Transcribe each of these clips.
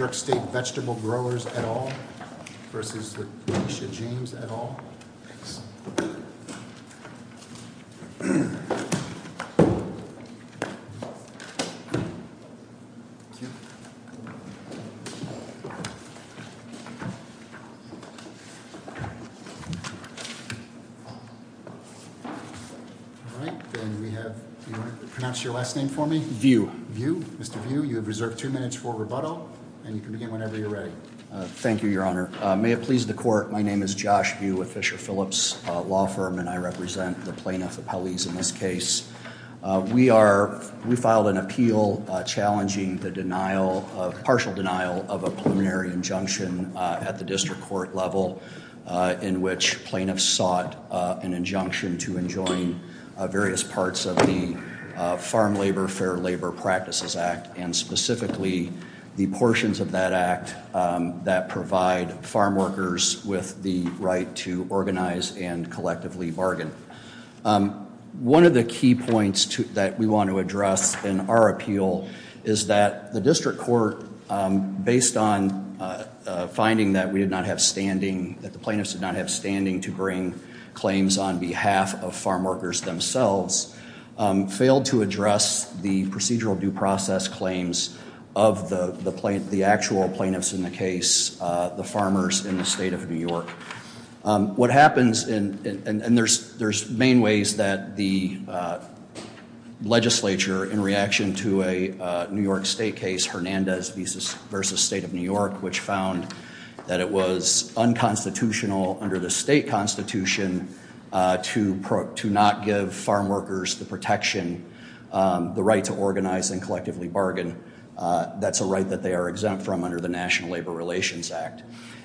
New York State Vegetable Growers, et al. v. Leisha James, et al. Do you want to pronounce your last name for me? View. Mr. View, you have reserved two minutes for rebuttal, and you can begin whenever you're ready. Thank you, Your Honor. May it please the Court, my name is Josh View with Fisher Phillips Law Firm, and I represent the plaintiff appellees in this case. We filed an appeal challenging the partial denial of a preliminary injunction at the district court level, in which plaintiffs sought an injunction to enjoin various parts of the Farm Labor Fair Labor Practices Act, and specifically the portions of that act that provide farm workers with the right to organize and collectively bargain. One of the key points that we want to address in our appeal is that the district court, based on finding that we did not have standing, that the plaintiffs did not have standing to bring claims on behalf of farm workers themselves, failed to address the procedural due process claims of the actual plaintiffs in the case, the farmers in the State of New York. What happens, and there's main ways that the legislature, in reaction to a New York State case, Hernandez v. State of New York, which found that it was unconstitutional under the state constitution to not give farm workers the protection, the right to organize and collectively bargain, that's a right that they are exempt from under the National Labor Relations Act.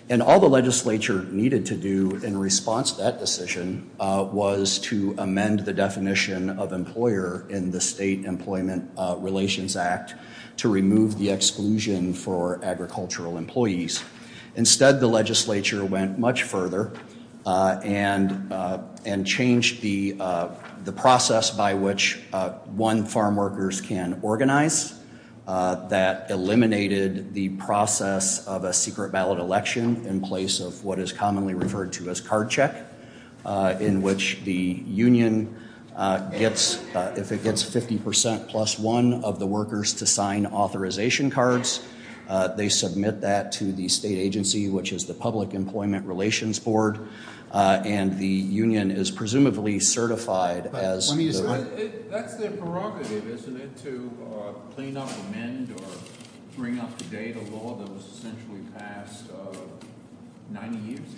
And all the legislature needed to do in response to that decision was to amend the definition of employer in the State Employment Relations Act to remove the exclusion for agricultural employees. Instead, the legislature went much further and changed the process by which one farm workers can organize, that eliminated the process of a secret ballot election in place of what is commonly referred to as card check, in which the union gets, if it gets 50% plus one of the workers to sign authorization cards, they submit that to the state agency, which is the Public Employment Relations Board, and the union is presumably certified as- That's their prerogative, isn't it, to clean up, amend, or bring up the data law that was essentially passed 90 years ago?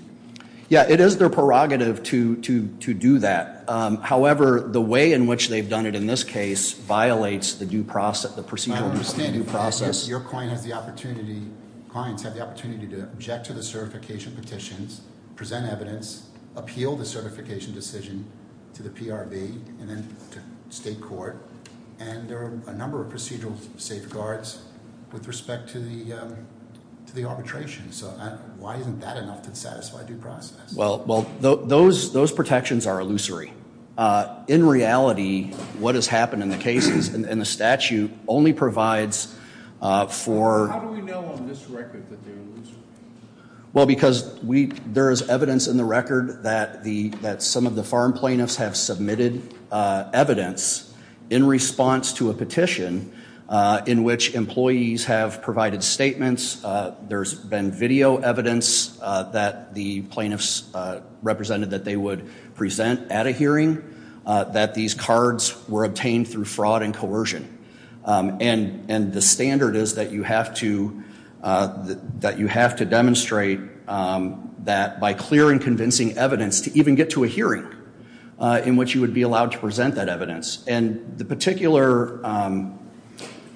Yeah, it is their prerogative to do that. However, the way in which they've done it in this case violates the procedural due process. I understand that your clients have the opportunity to object to the certification petitions, present evidence, appeal the certification decision to the PRB and then to state court, and there are a number of procedural safeguards with respect to the arbitration. So why isn't that enough to satisfy due process? Well, those protections are illusory. In reality, what has happened in the cases and the statute only provides for- How do we know on this record that they're illusory? Well, because there is evidence in the record that some of the farm plaintiffs have submitted evidence in response to a petition in which employees have provided statements, there's been video evidence that the plaintiffs represented that they would present at a hearing, that these cards were obtained through fraud and coercion. And the standard is that you have to demonstrate that by clear and convincing evidence to even get to a hearing in which you would be allowed to present that evidence. And the particular-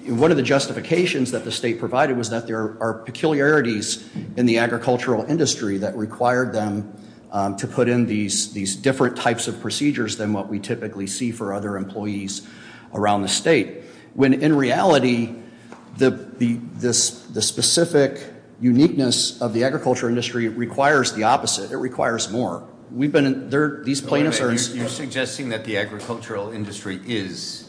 One of the justifications that the state provided was that there are peculiarities in the agricultural industry that required them to put in these different types of procedures than what we typically see for other employees around the state. When in reality, the specific uniqueness of the agricultural industry requires the opposite. It requires more. We've been- You're suggesting that the agricultural industry is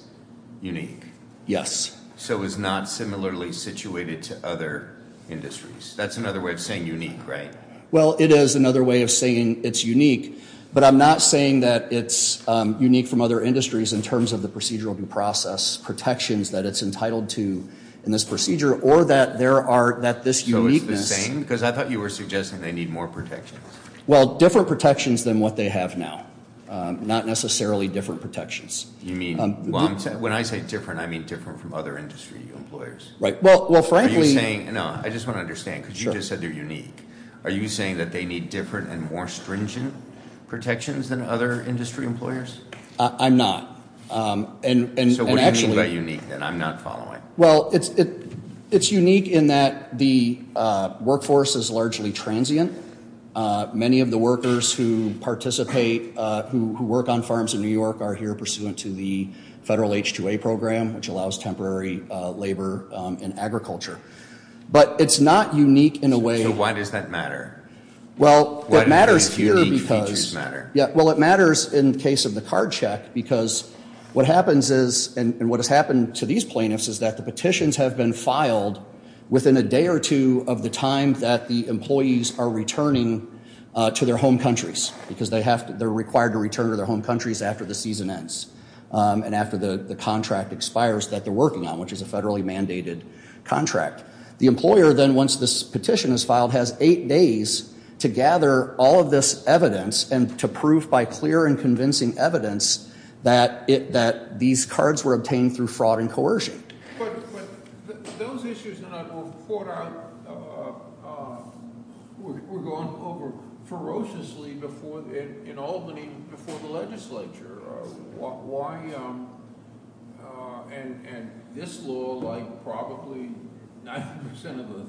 unique. Yes. So it's not similarly situated to other industries. That's another way of saying unique, right? Well, it is another way of saying it's unique, but I'm not saying that it's unique from other industries in terms of the procedural due process protections that it's entitled to in this procedure, or that there are, that this uniqueness- So it's the same? Because I thought you were suggesting they need more protections. Well, different protections than what they have now. Not necessarily different protections. You mean, when I say different, I mean different from other industry employers. Right. Well, frankly- No, I just want to understand, because you just said they're unique. Are you saying that they need different and more stringent protections than other industry employers? I'm not. And actually- So what do you mean by unique, then? I'm not following. Well, it's unique in that the workforce is largely transient. Many of the workers who participate, who work on farms in New York, are here pursuant to the federal H-2A program, which allows temporary labor in agriculture. But it's not unique in a way- So why does that matter? Well, it matters here because- Why do these unique features matter? to their home countries, because they're required to return to their home countries after the season ends and after the contract expires that they're working on, which is a federally mandated contract. The employer then, once this petition is filed, has eight days to gather all of this evidence and to prove by clear and convincing evidence that these cards were obtained through fraud and coercion. But those issues that I brought up were gone over ferociously in Albany before the legislature. And this law, like probably 90% of the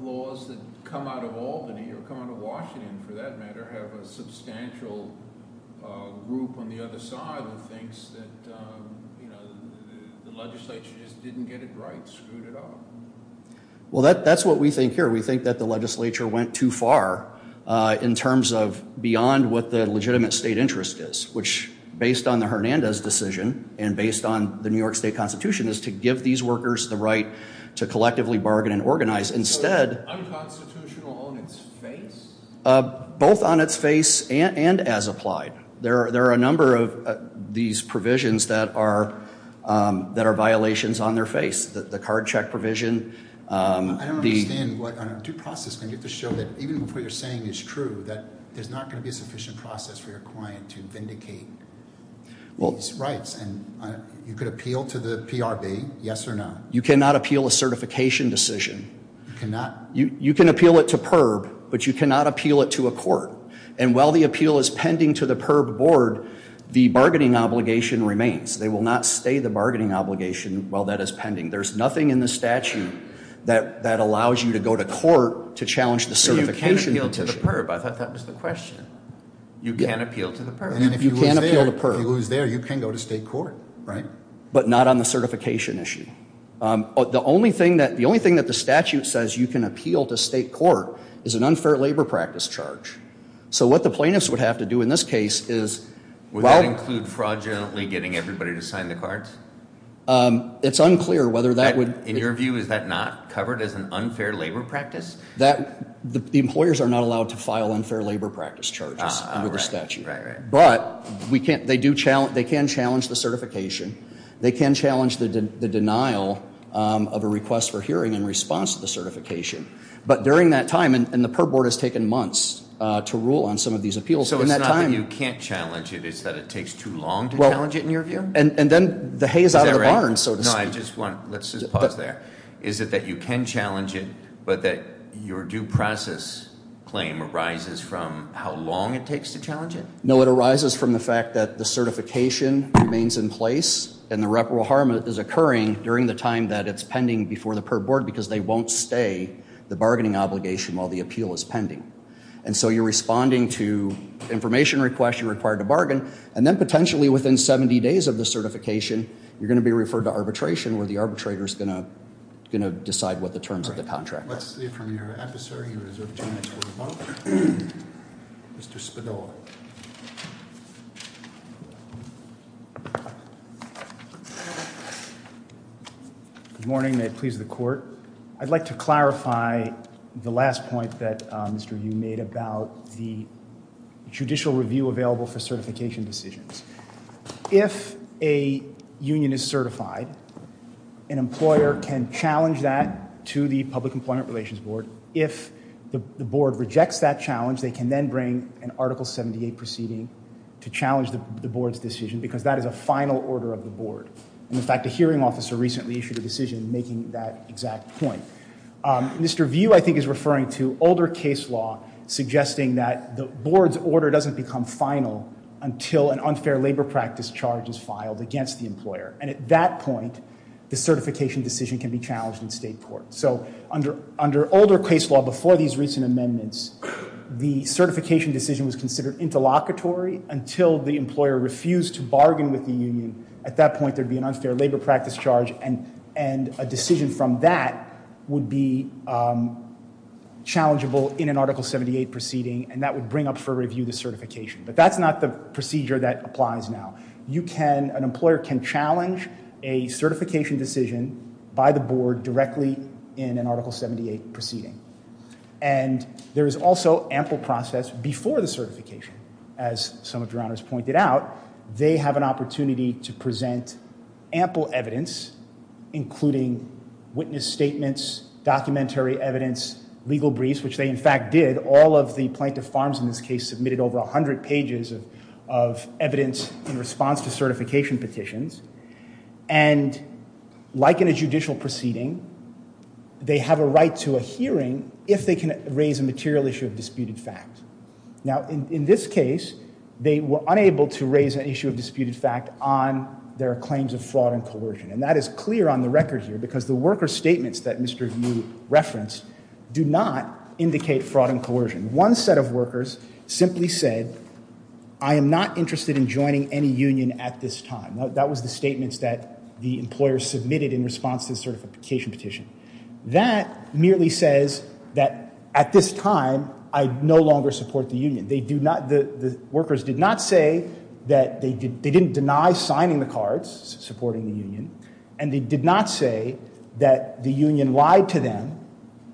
laws that come out of Albany or come out of Washington, for that matter, have a substantial group on the other side that thinks that the legislature just didn't get it right, screwed it up. Well, that's what we think here. We think that the legislature went too far in terms of beyond what the legitimate state interest is, which, based on the Hernandez decision and based on the New York State Constitution, is to give these workers the right to collectively bargain and organize. Instead- Unconstitutional on its face? Both on its face and as applied. There are a number of these provisions that are violations on their face. The card check provision- I don't understand. On a due process, you have to show that even if what you're saying is true, that there's not going to be a sufficient process for your client to vindicate these rights. You could appeal to the PRB, yes or no? You cannot appeal a certification decision. You cannot? You can appeal it to PERB, but you cannot appeal it to a court. And while the appeal is pending to the PERB board, the bargaining obligation remains. They will not stay the bargaining obligation while that is pending. There's nothing in the statute that allows you to go to court to challenge the certification issue. But you can appeal to the PERB. I thought that was the question. You can appeal to the PERB. And if you lose there, you can go to state court, right? But not on the certification issue. The only thing that the statute says you can appeal to state court is an unfair labor practice charge. So what the plaintiffs would have to do in this case is- Would that include fraudulently getting everybody to sign the cards? It's unclear whether that would- In your view, is that not covered as an unfair labor practice? The employers are not allowed to file unfair labor practice charges under the statute. But they can challenge the certification. They can challenge the denial of a request for hearing in response to the certification. But during that time, and the PERB board has taken months to rule on some of these appeals, in that time- So it's not that you can't challenge it, it's that it takes too long to challenge it in your view? And then the hay is out of the barn, so to speak. Is that right? No, I just want- Let's just pause there. Is it that you can challenge it, but that your due process claim arises from how long it takes to challenge it? No, it arises from the fact that the certification remains in place. And the reparable harm is occurring during the time that it's pending before the PERB board. Because they won't stay the bargaining obligation while the appeal is pending. And so you're responding to information requests you require to bargain. And then potentially within 70 days of the certification, you're going to be referred to arbitration. Where the arbitrator is going to decide what the terms of the contract are. Let's see if from your adversary you reserve two minutes for a vote. Mr. Spadoli. Good morning, may it please the court. I'd like to clarify the last point that Mr. Yu made about the judicial review available for certification decisions. If a union is certified, an employer can challenge that to the Public Employment Relations Board. If the board rejects that challenge, they can then bring an Article 78 proceeding to challenge the board's decision. Because that is a final order of the board. And in fact, a hearing officer recently issued a decision making that exact point. Mr. Yu, I think, is referring to older case law. Suggesting that the board's order doesn't become final until an unfair labor practice charge is filed against the employer. And at that point, the certification decision can be challenged in state court. So under older case law, before these recent amendments, the certification decision was considered interlocutory. Until the employer refused to bargain with the union. At that point, there'd be an unfair labor practice charge. And a decision from that would be challengeable in an Article 78 proceeding. And that would bring up for review the certification. But that's not the procedure that applies now. You can, an employer can challenge a certification decision by the board directly in an Article 78 proceeding. And there is also ample process before the certification. As some of your honors pointed out, they have an opportunity to present ample evidence. Including witness statements, documentary evidence, legal briefs. Which they, in fact, did. All of the plaintiff farms in this case submitted over 100 pages of evidence in response to certification petitions. And like in a judicial proceeding, they have a right to a hearing if they can raise a material issue of disputed fact. Now, in this case, they were unable to raise an issue of disputed fact on their claims of fraud and coercion. And that is clear on the record here. Because the worker statements that Mr. Yu referenced do not indicate fraud and coercion. One set of workers simply said, I am not interested in joining any union at this time. That was the statements that the employer submitted in response to the certification petition. That merely says that at this time, I no longer support the union. The workers did not say that they didn't deny signing the cards supporting the union. And they did not say that the union lied to them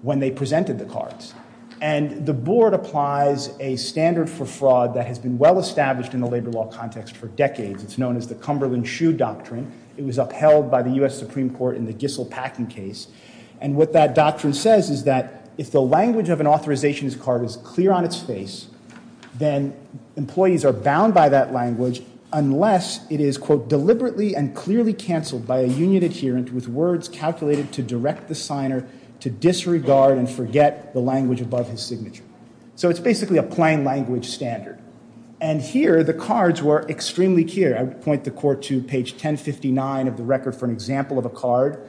when they presented the cards. And the board applies a standard for fraud that has been well established in the labor law context for decades. It's known as the Cumberland Shoe Doctrine. It was upheld by the U.S. Supreme Court in the Gissell Packing case. And what that doctrine says is that if the language of an authorization card is clear on its face, then employees are bound by that language unless it is, quote, deliberately and clearly canceled by a union adherent with words calculated to direct the signer to disregard and forget the language above his signature. So it's basically a plain language standard. And here, the cards were extremely clear. I would point the court to page 1059 of the record for an example of a card,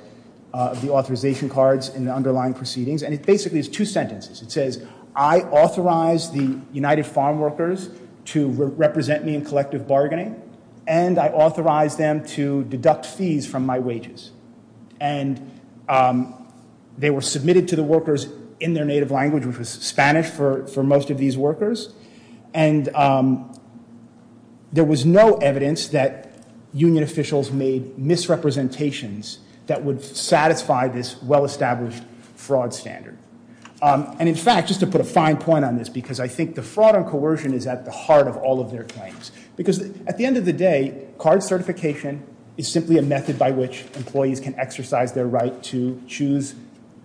the authorization cards, and the underlying proceedings. And it basically is two sentences. It says, I authorize the United Farm Workers to represent me in collective bargaining. And I authorize them to deduct fees from my wages. And they were submitted to the workers in their native language, which was Spanish for most of these workers. And there was no evidence that union officials made misrepresentations that would satisfy this well-established fraud standard. And in fact, just to put a fine point on this, because I think the fraud and coercion is at the heart of all of their claims. Because at the end of the day, card certification is simply a method by which employees can exercise their right to choose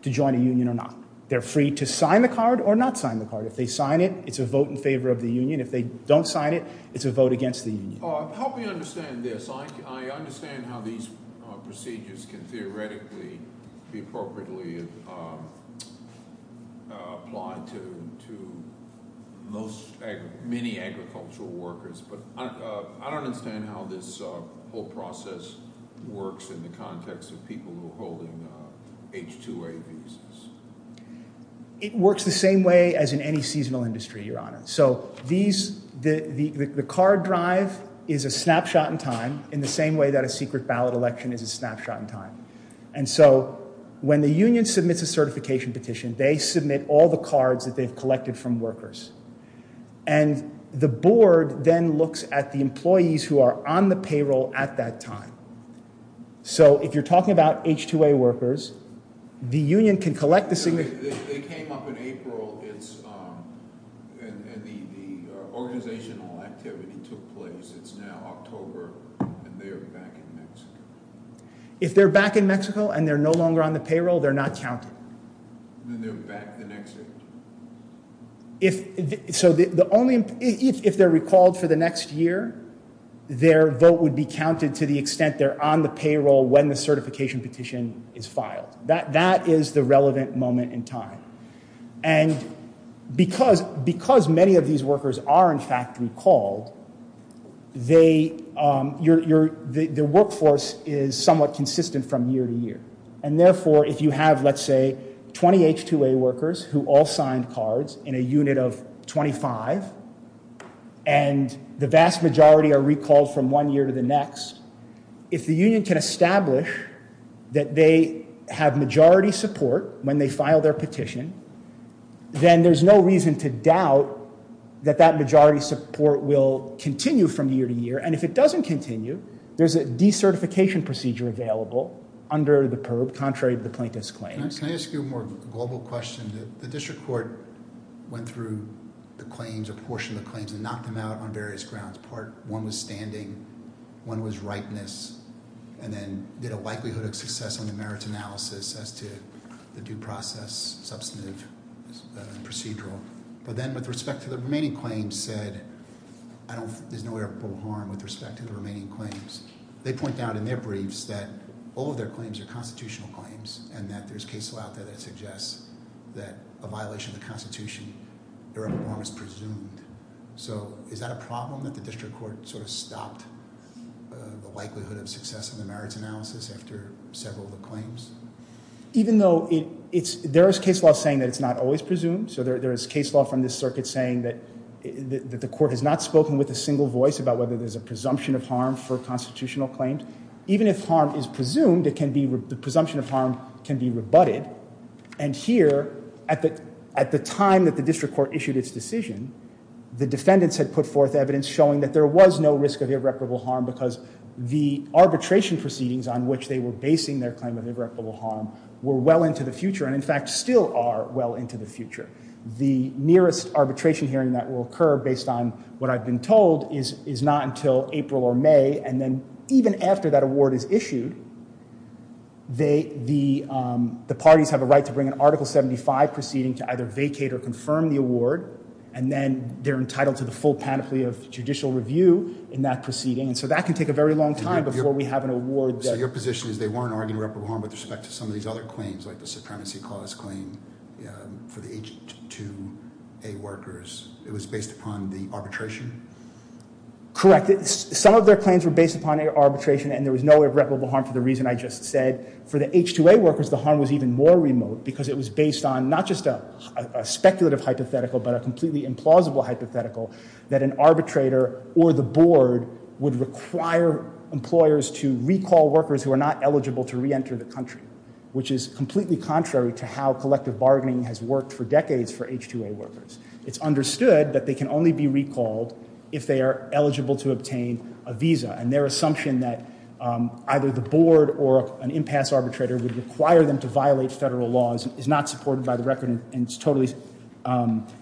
to join a union or not. They're free to sign the card or not sign the card. If they sign it, it's a vote in favor of the union. If they don't sign it, it's a vote against the union. Help me understand this. I understand how these procedures can theoretically be appropriately applied to many agricultural workers. But I don't understand how this whole process works in the context of people who are holding H-2A visas. It works the same way as in any seasonal industry, Your Honor. So the card drive is a snapshot in time in the same way that a secret ballot election is a snapshot in time. And so when the union submits a certification petition, they submit all the cards that they've collected from workers. And the board then looks at the employees who are on the payroll at that time. So if you're talking about H-2A workers, the union can collect the signatures. They came up in April, and the organizational activity took place. It's now October, and they're back in Mexico. If they're back in Mexico and they're no longer on the payroll, they're not counted. Then they're back the next year. So if they're recalled for the next year, their vote would be counted to the extent they're on the payroll when the certification petition is filed. That is the relevant moment in time. And because many of these workers are, in fact, recalled, their workforce is somewhat consistent from year to year. And therefore, if you have, let's say, 20 H-2A workers who all signed cards in a unit of 25, and the vast majority are recalled from one year to the next, if the union can establish that they have majority support when they file their petition, then there's no reason to doubt that that majority support will continue from year to year. And if it doesn't continue, there's a decertification procedure available under the PERB contrary to the plaintiff's claims. Can I ask you a more global question? The district court went through the claims, a portion of the claims, and knocked them out on various grounds. One was standing, one was ripeness, and then did a likelihood of success on the merits analysis as to the due process substantive procedural. But then with respect to the remaining claims said, there's no irreparable harm with respect to the remaining claims. They point out in their briefs that all of their claims are constitutional claims, and that there's case law out there that suggests that a violation of the Constitution, their own harm is presumed. So is that a problem that the district court sort of stopped the likelihood of success in the merits analysis after several of the claims? Even though there is case law saying that it's not always presumed. So there is case law from this circuit saying that the court has not spoken with a single voice about whether there's a presumption of harm for constitutional claims. Even if harm is presumed, the presumption of harm can be rebutted. And here, at the time that the district court issued its decision, the defendants had put forth evidence showing that there was no risk of irreparable harm because the arbitration proceedings on which they were basing their claim of irreparable harm were well into the future, and in fact still are well into the future. The nearest arbitration hearing that will occur, based on what I've been told, is not until April or May. And then even after that award is issued, the parties have a right to bring an Article 75 proceeding to either vacate or confirm the award. And then they're entitled to the full panoply of judicial review in that proceeding. And so that can take a very long time before we have an award there. So your position is they weren't arguing irreparable harm with respect to some of these other claims, like the Supremacy Clause claim for the H-2A workers. It was based upon the arbitration? Correct. Some of their claims were based upon arbitration, and there was no irreparable harm for the reason I just said. For the H-2A workers, the harm was even more remote because it was based on not just a speculative hypothetical but a completely implausible hypothetical that an arbitrator or the board would require employers to recall workers who are not eligible to reenter the country, which is completely contrary to how collective bargaining has worked for decades for H-2A workers. It's understood that they can only be recalled if they are eligible to obtain a visa, and their assumption that either the board or an impasse arbitrator would require them to violate federal laws is not supported by the record and is totally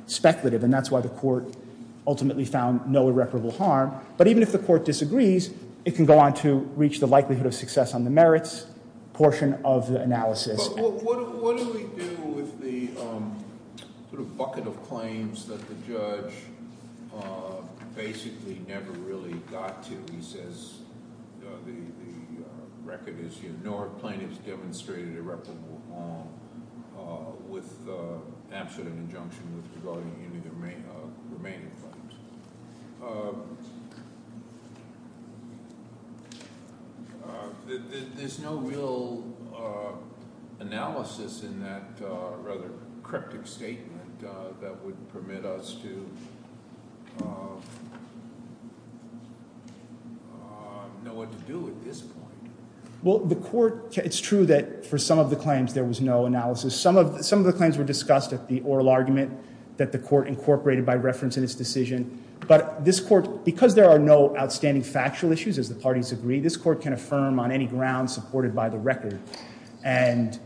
speculative. And that's why the court ultimately found no irreparable harm. But even if the court disagrees, it can go on to reach the likelihood of success on the merits portion of the analysis. But what do we do with the sort of bucket of claims that the judge basically never really got to? He says the record is ignored. Plaintiffs demonstrated irreparable harm with absolute injunction with regard to any remaining claims. There's no real analysis in that rather cryptic statement that would permit us to know what to do at this point. Well, the court – it's true that for some of the claims there was no analysis. Some of the claims were discussed at the oral argument that the court incorporated by reference in its decision. But this court, because there are no outstanding factual issues, as the parties agree, this court can affirm on any ground supported by the record. And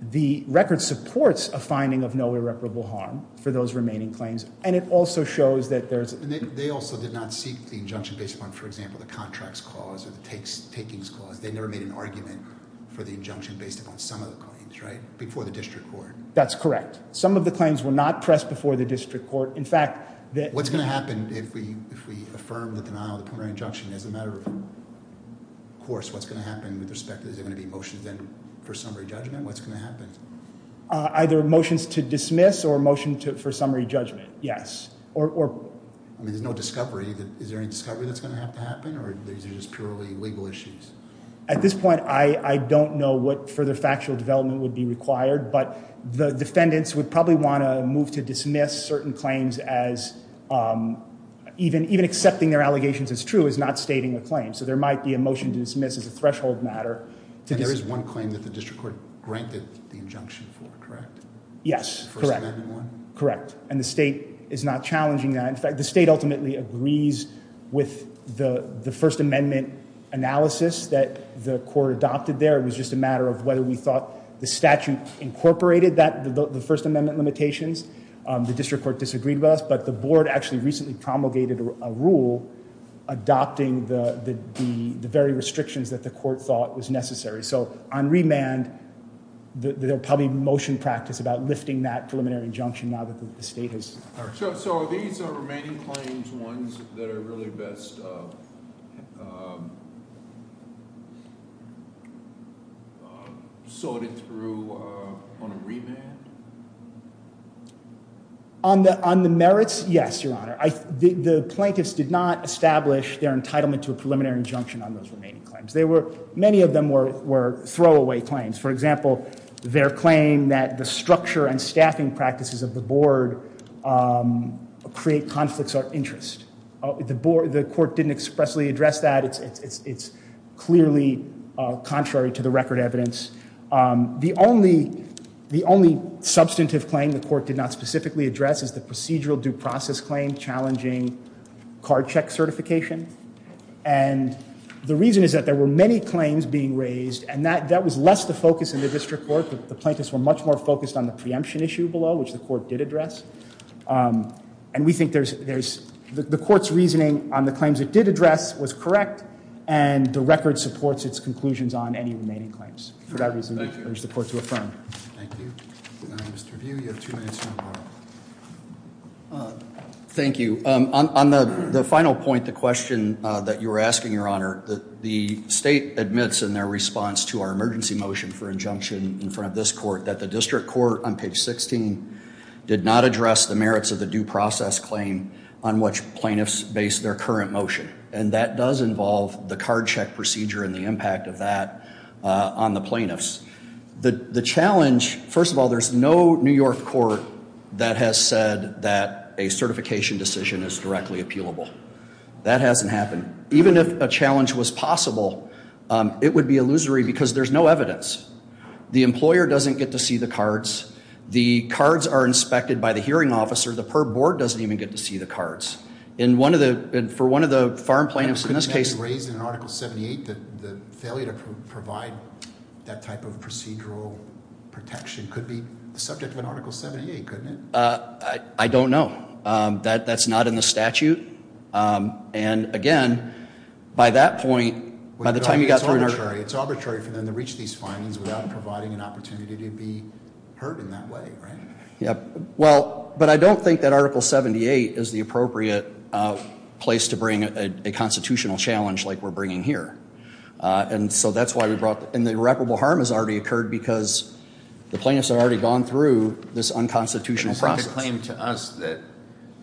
the record supports a finding of no irreparable harm for those remaining claims. And it also shows that there's – And they also did not seek the injunction based upon, for example, the contracts clause or the takings clause. They never made an argument for the injunction based upon some of the claims, right? Before the district court. That's correct. Some of the claims were not pressed before the district court. In fact – What's going to happen if we affirm the denial of the preliminary injunction as a matter of course? What's going to happen with respect – is there going to be motions then for summary judgment? What's going to happen? Either motions to dismiss or a motion for summary judgment, yes. I mean, there's no discovery. Is there any discovery that's going to have to happen? Or are these just purely legal issues? At this point, I don't know what further factual development would be required. But the defendants would probably want to move to dismiss certain claims as – even accepting their allegations as true is not stating a claim. So there might be a motion to dismiss as a threshold matter. And there is one claim that the district court granted the injunction for, correct? Yes, correct. The First Amendment one? Correct. And the state is not challenging that. In fact, the state ultimately agrees with the First Amendment analysis that the court adopted there. It was just a matter of whether we thought the statute incorporated the First Amendment limitations. The district court disagreed with us. But the board actually recently promulgated a rule adopting the very restrictions that the court thought was necessary. So on remand, there will probably be motion practice about lifting that preliminary injunction now that the state has – So are these remaining claims ones that are really best – sorted through on a remand? On the merits, yes, Your Honor. The plaintiffs did not establish their entitlement to a preliminary injunction on those remaining claims. Many of them were throwaway claims. For example, their claim that the structure and staffing practices of the board create conflicts of interest. The court didn't expressly address that. It's clearly contrary to the record evidence. The only substantive claim the court did not specifically address is the procedural due process claim challenging card check certification. And the reason is that there were many claims being raised, and that was less the focus in the district court. The plaintiffs were much more focused on the preemption issue below, which the court did address. And we think there's – the court's reasoning on the claims it did address was correct, and the record supports its conclusions on any remaining claims. For that reason, we urge the court to affirm. Thank you. Mr. Vieau, you have two minutes. Thank you. On the final point, the question that you were asking, Your Honor, the state admits in their response to our emergency motion for injunction in front of this court that the district court on page 16 did not address the merits of the due process claim on which plaintiffs based their current motion. And that does involve the card check procedure and the impact of that on the plaintiffs. The challenge – first of all, there's no New York court that has said that a certification decision is directly appealable. That hasn't happened. Even if a challenge was possible, it would be illusory because there's no evidence. The employer doesn't get to see the cards. The cards are inspected by the hearing officer. The PERB board doesn't even get to see the cards. In one of the – for one of the farm plaintiffs in this case – It was raised in Article 78 that the failure to provide that type of procedural protection could be the subject of an Article 78, couldn't it? I don't know. That's not in the statute. And, again, by that point, by the time you got through – It's arbitrary for them to reach these findings without providing an opportunity to be heard in that way, right? Well, but I don't think that Article 78 is the appropriate place to bring a constitutional challenge like we're bringing here. And so that's why we brought – and the irreparable harm has already occurred because the plaintiffs have already gone through this unconstitutional process. It's not a claim to us that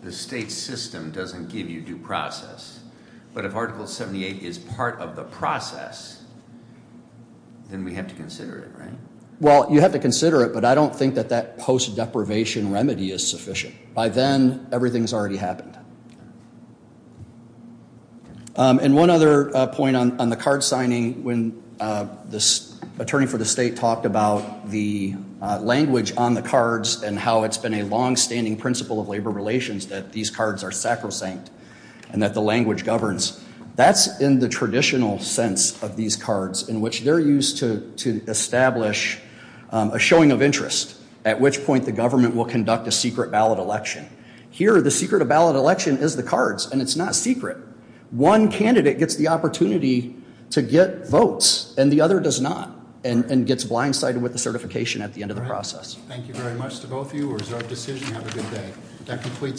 the state system doesn't give you due process. But if Article 78 is part of the process, then we have to consider it, right? Well, you have to consider it, but I don't think that that post-deprivation remedy is sufficient. By then, everything's already happened. And one other point on the card signing, when the attorney for the state talked about the language on the cards and how it's been a longstanding principle of labor relations that these cards are sacrosanct and that the language governs. That's in the traditional sense of these cards, in which they're used to establish a showing of interest, at which point the government will conduct a secret ballot election. Here, the secret of ballot election is the cards, and it's not secret. One candidate gets the opportunity to get votes, and the other does not, and gets blindsided with the certification at the end of the process. Thank you very much to both of you. Reserve decision. Have a good day.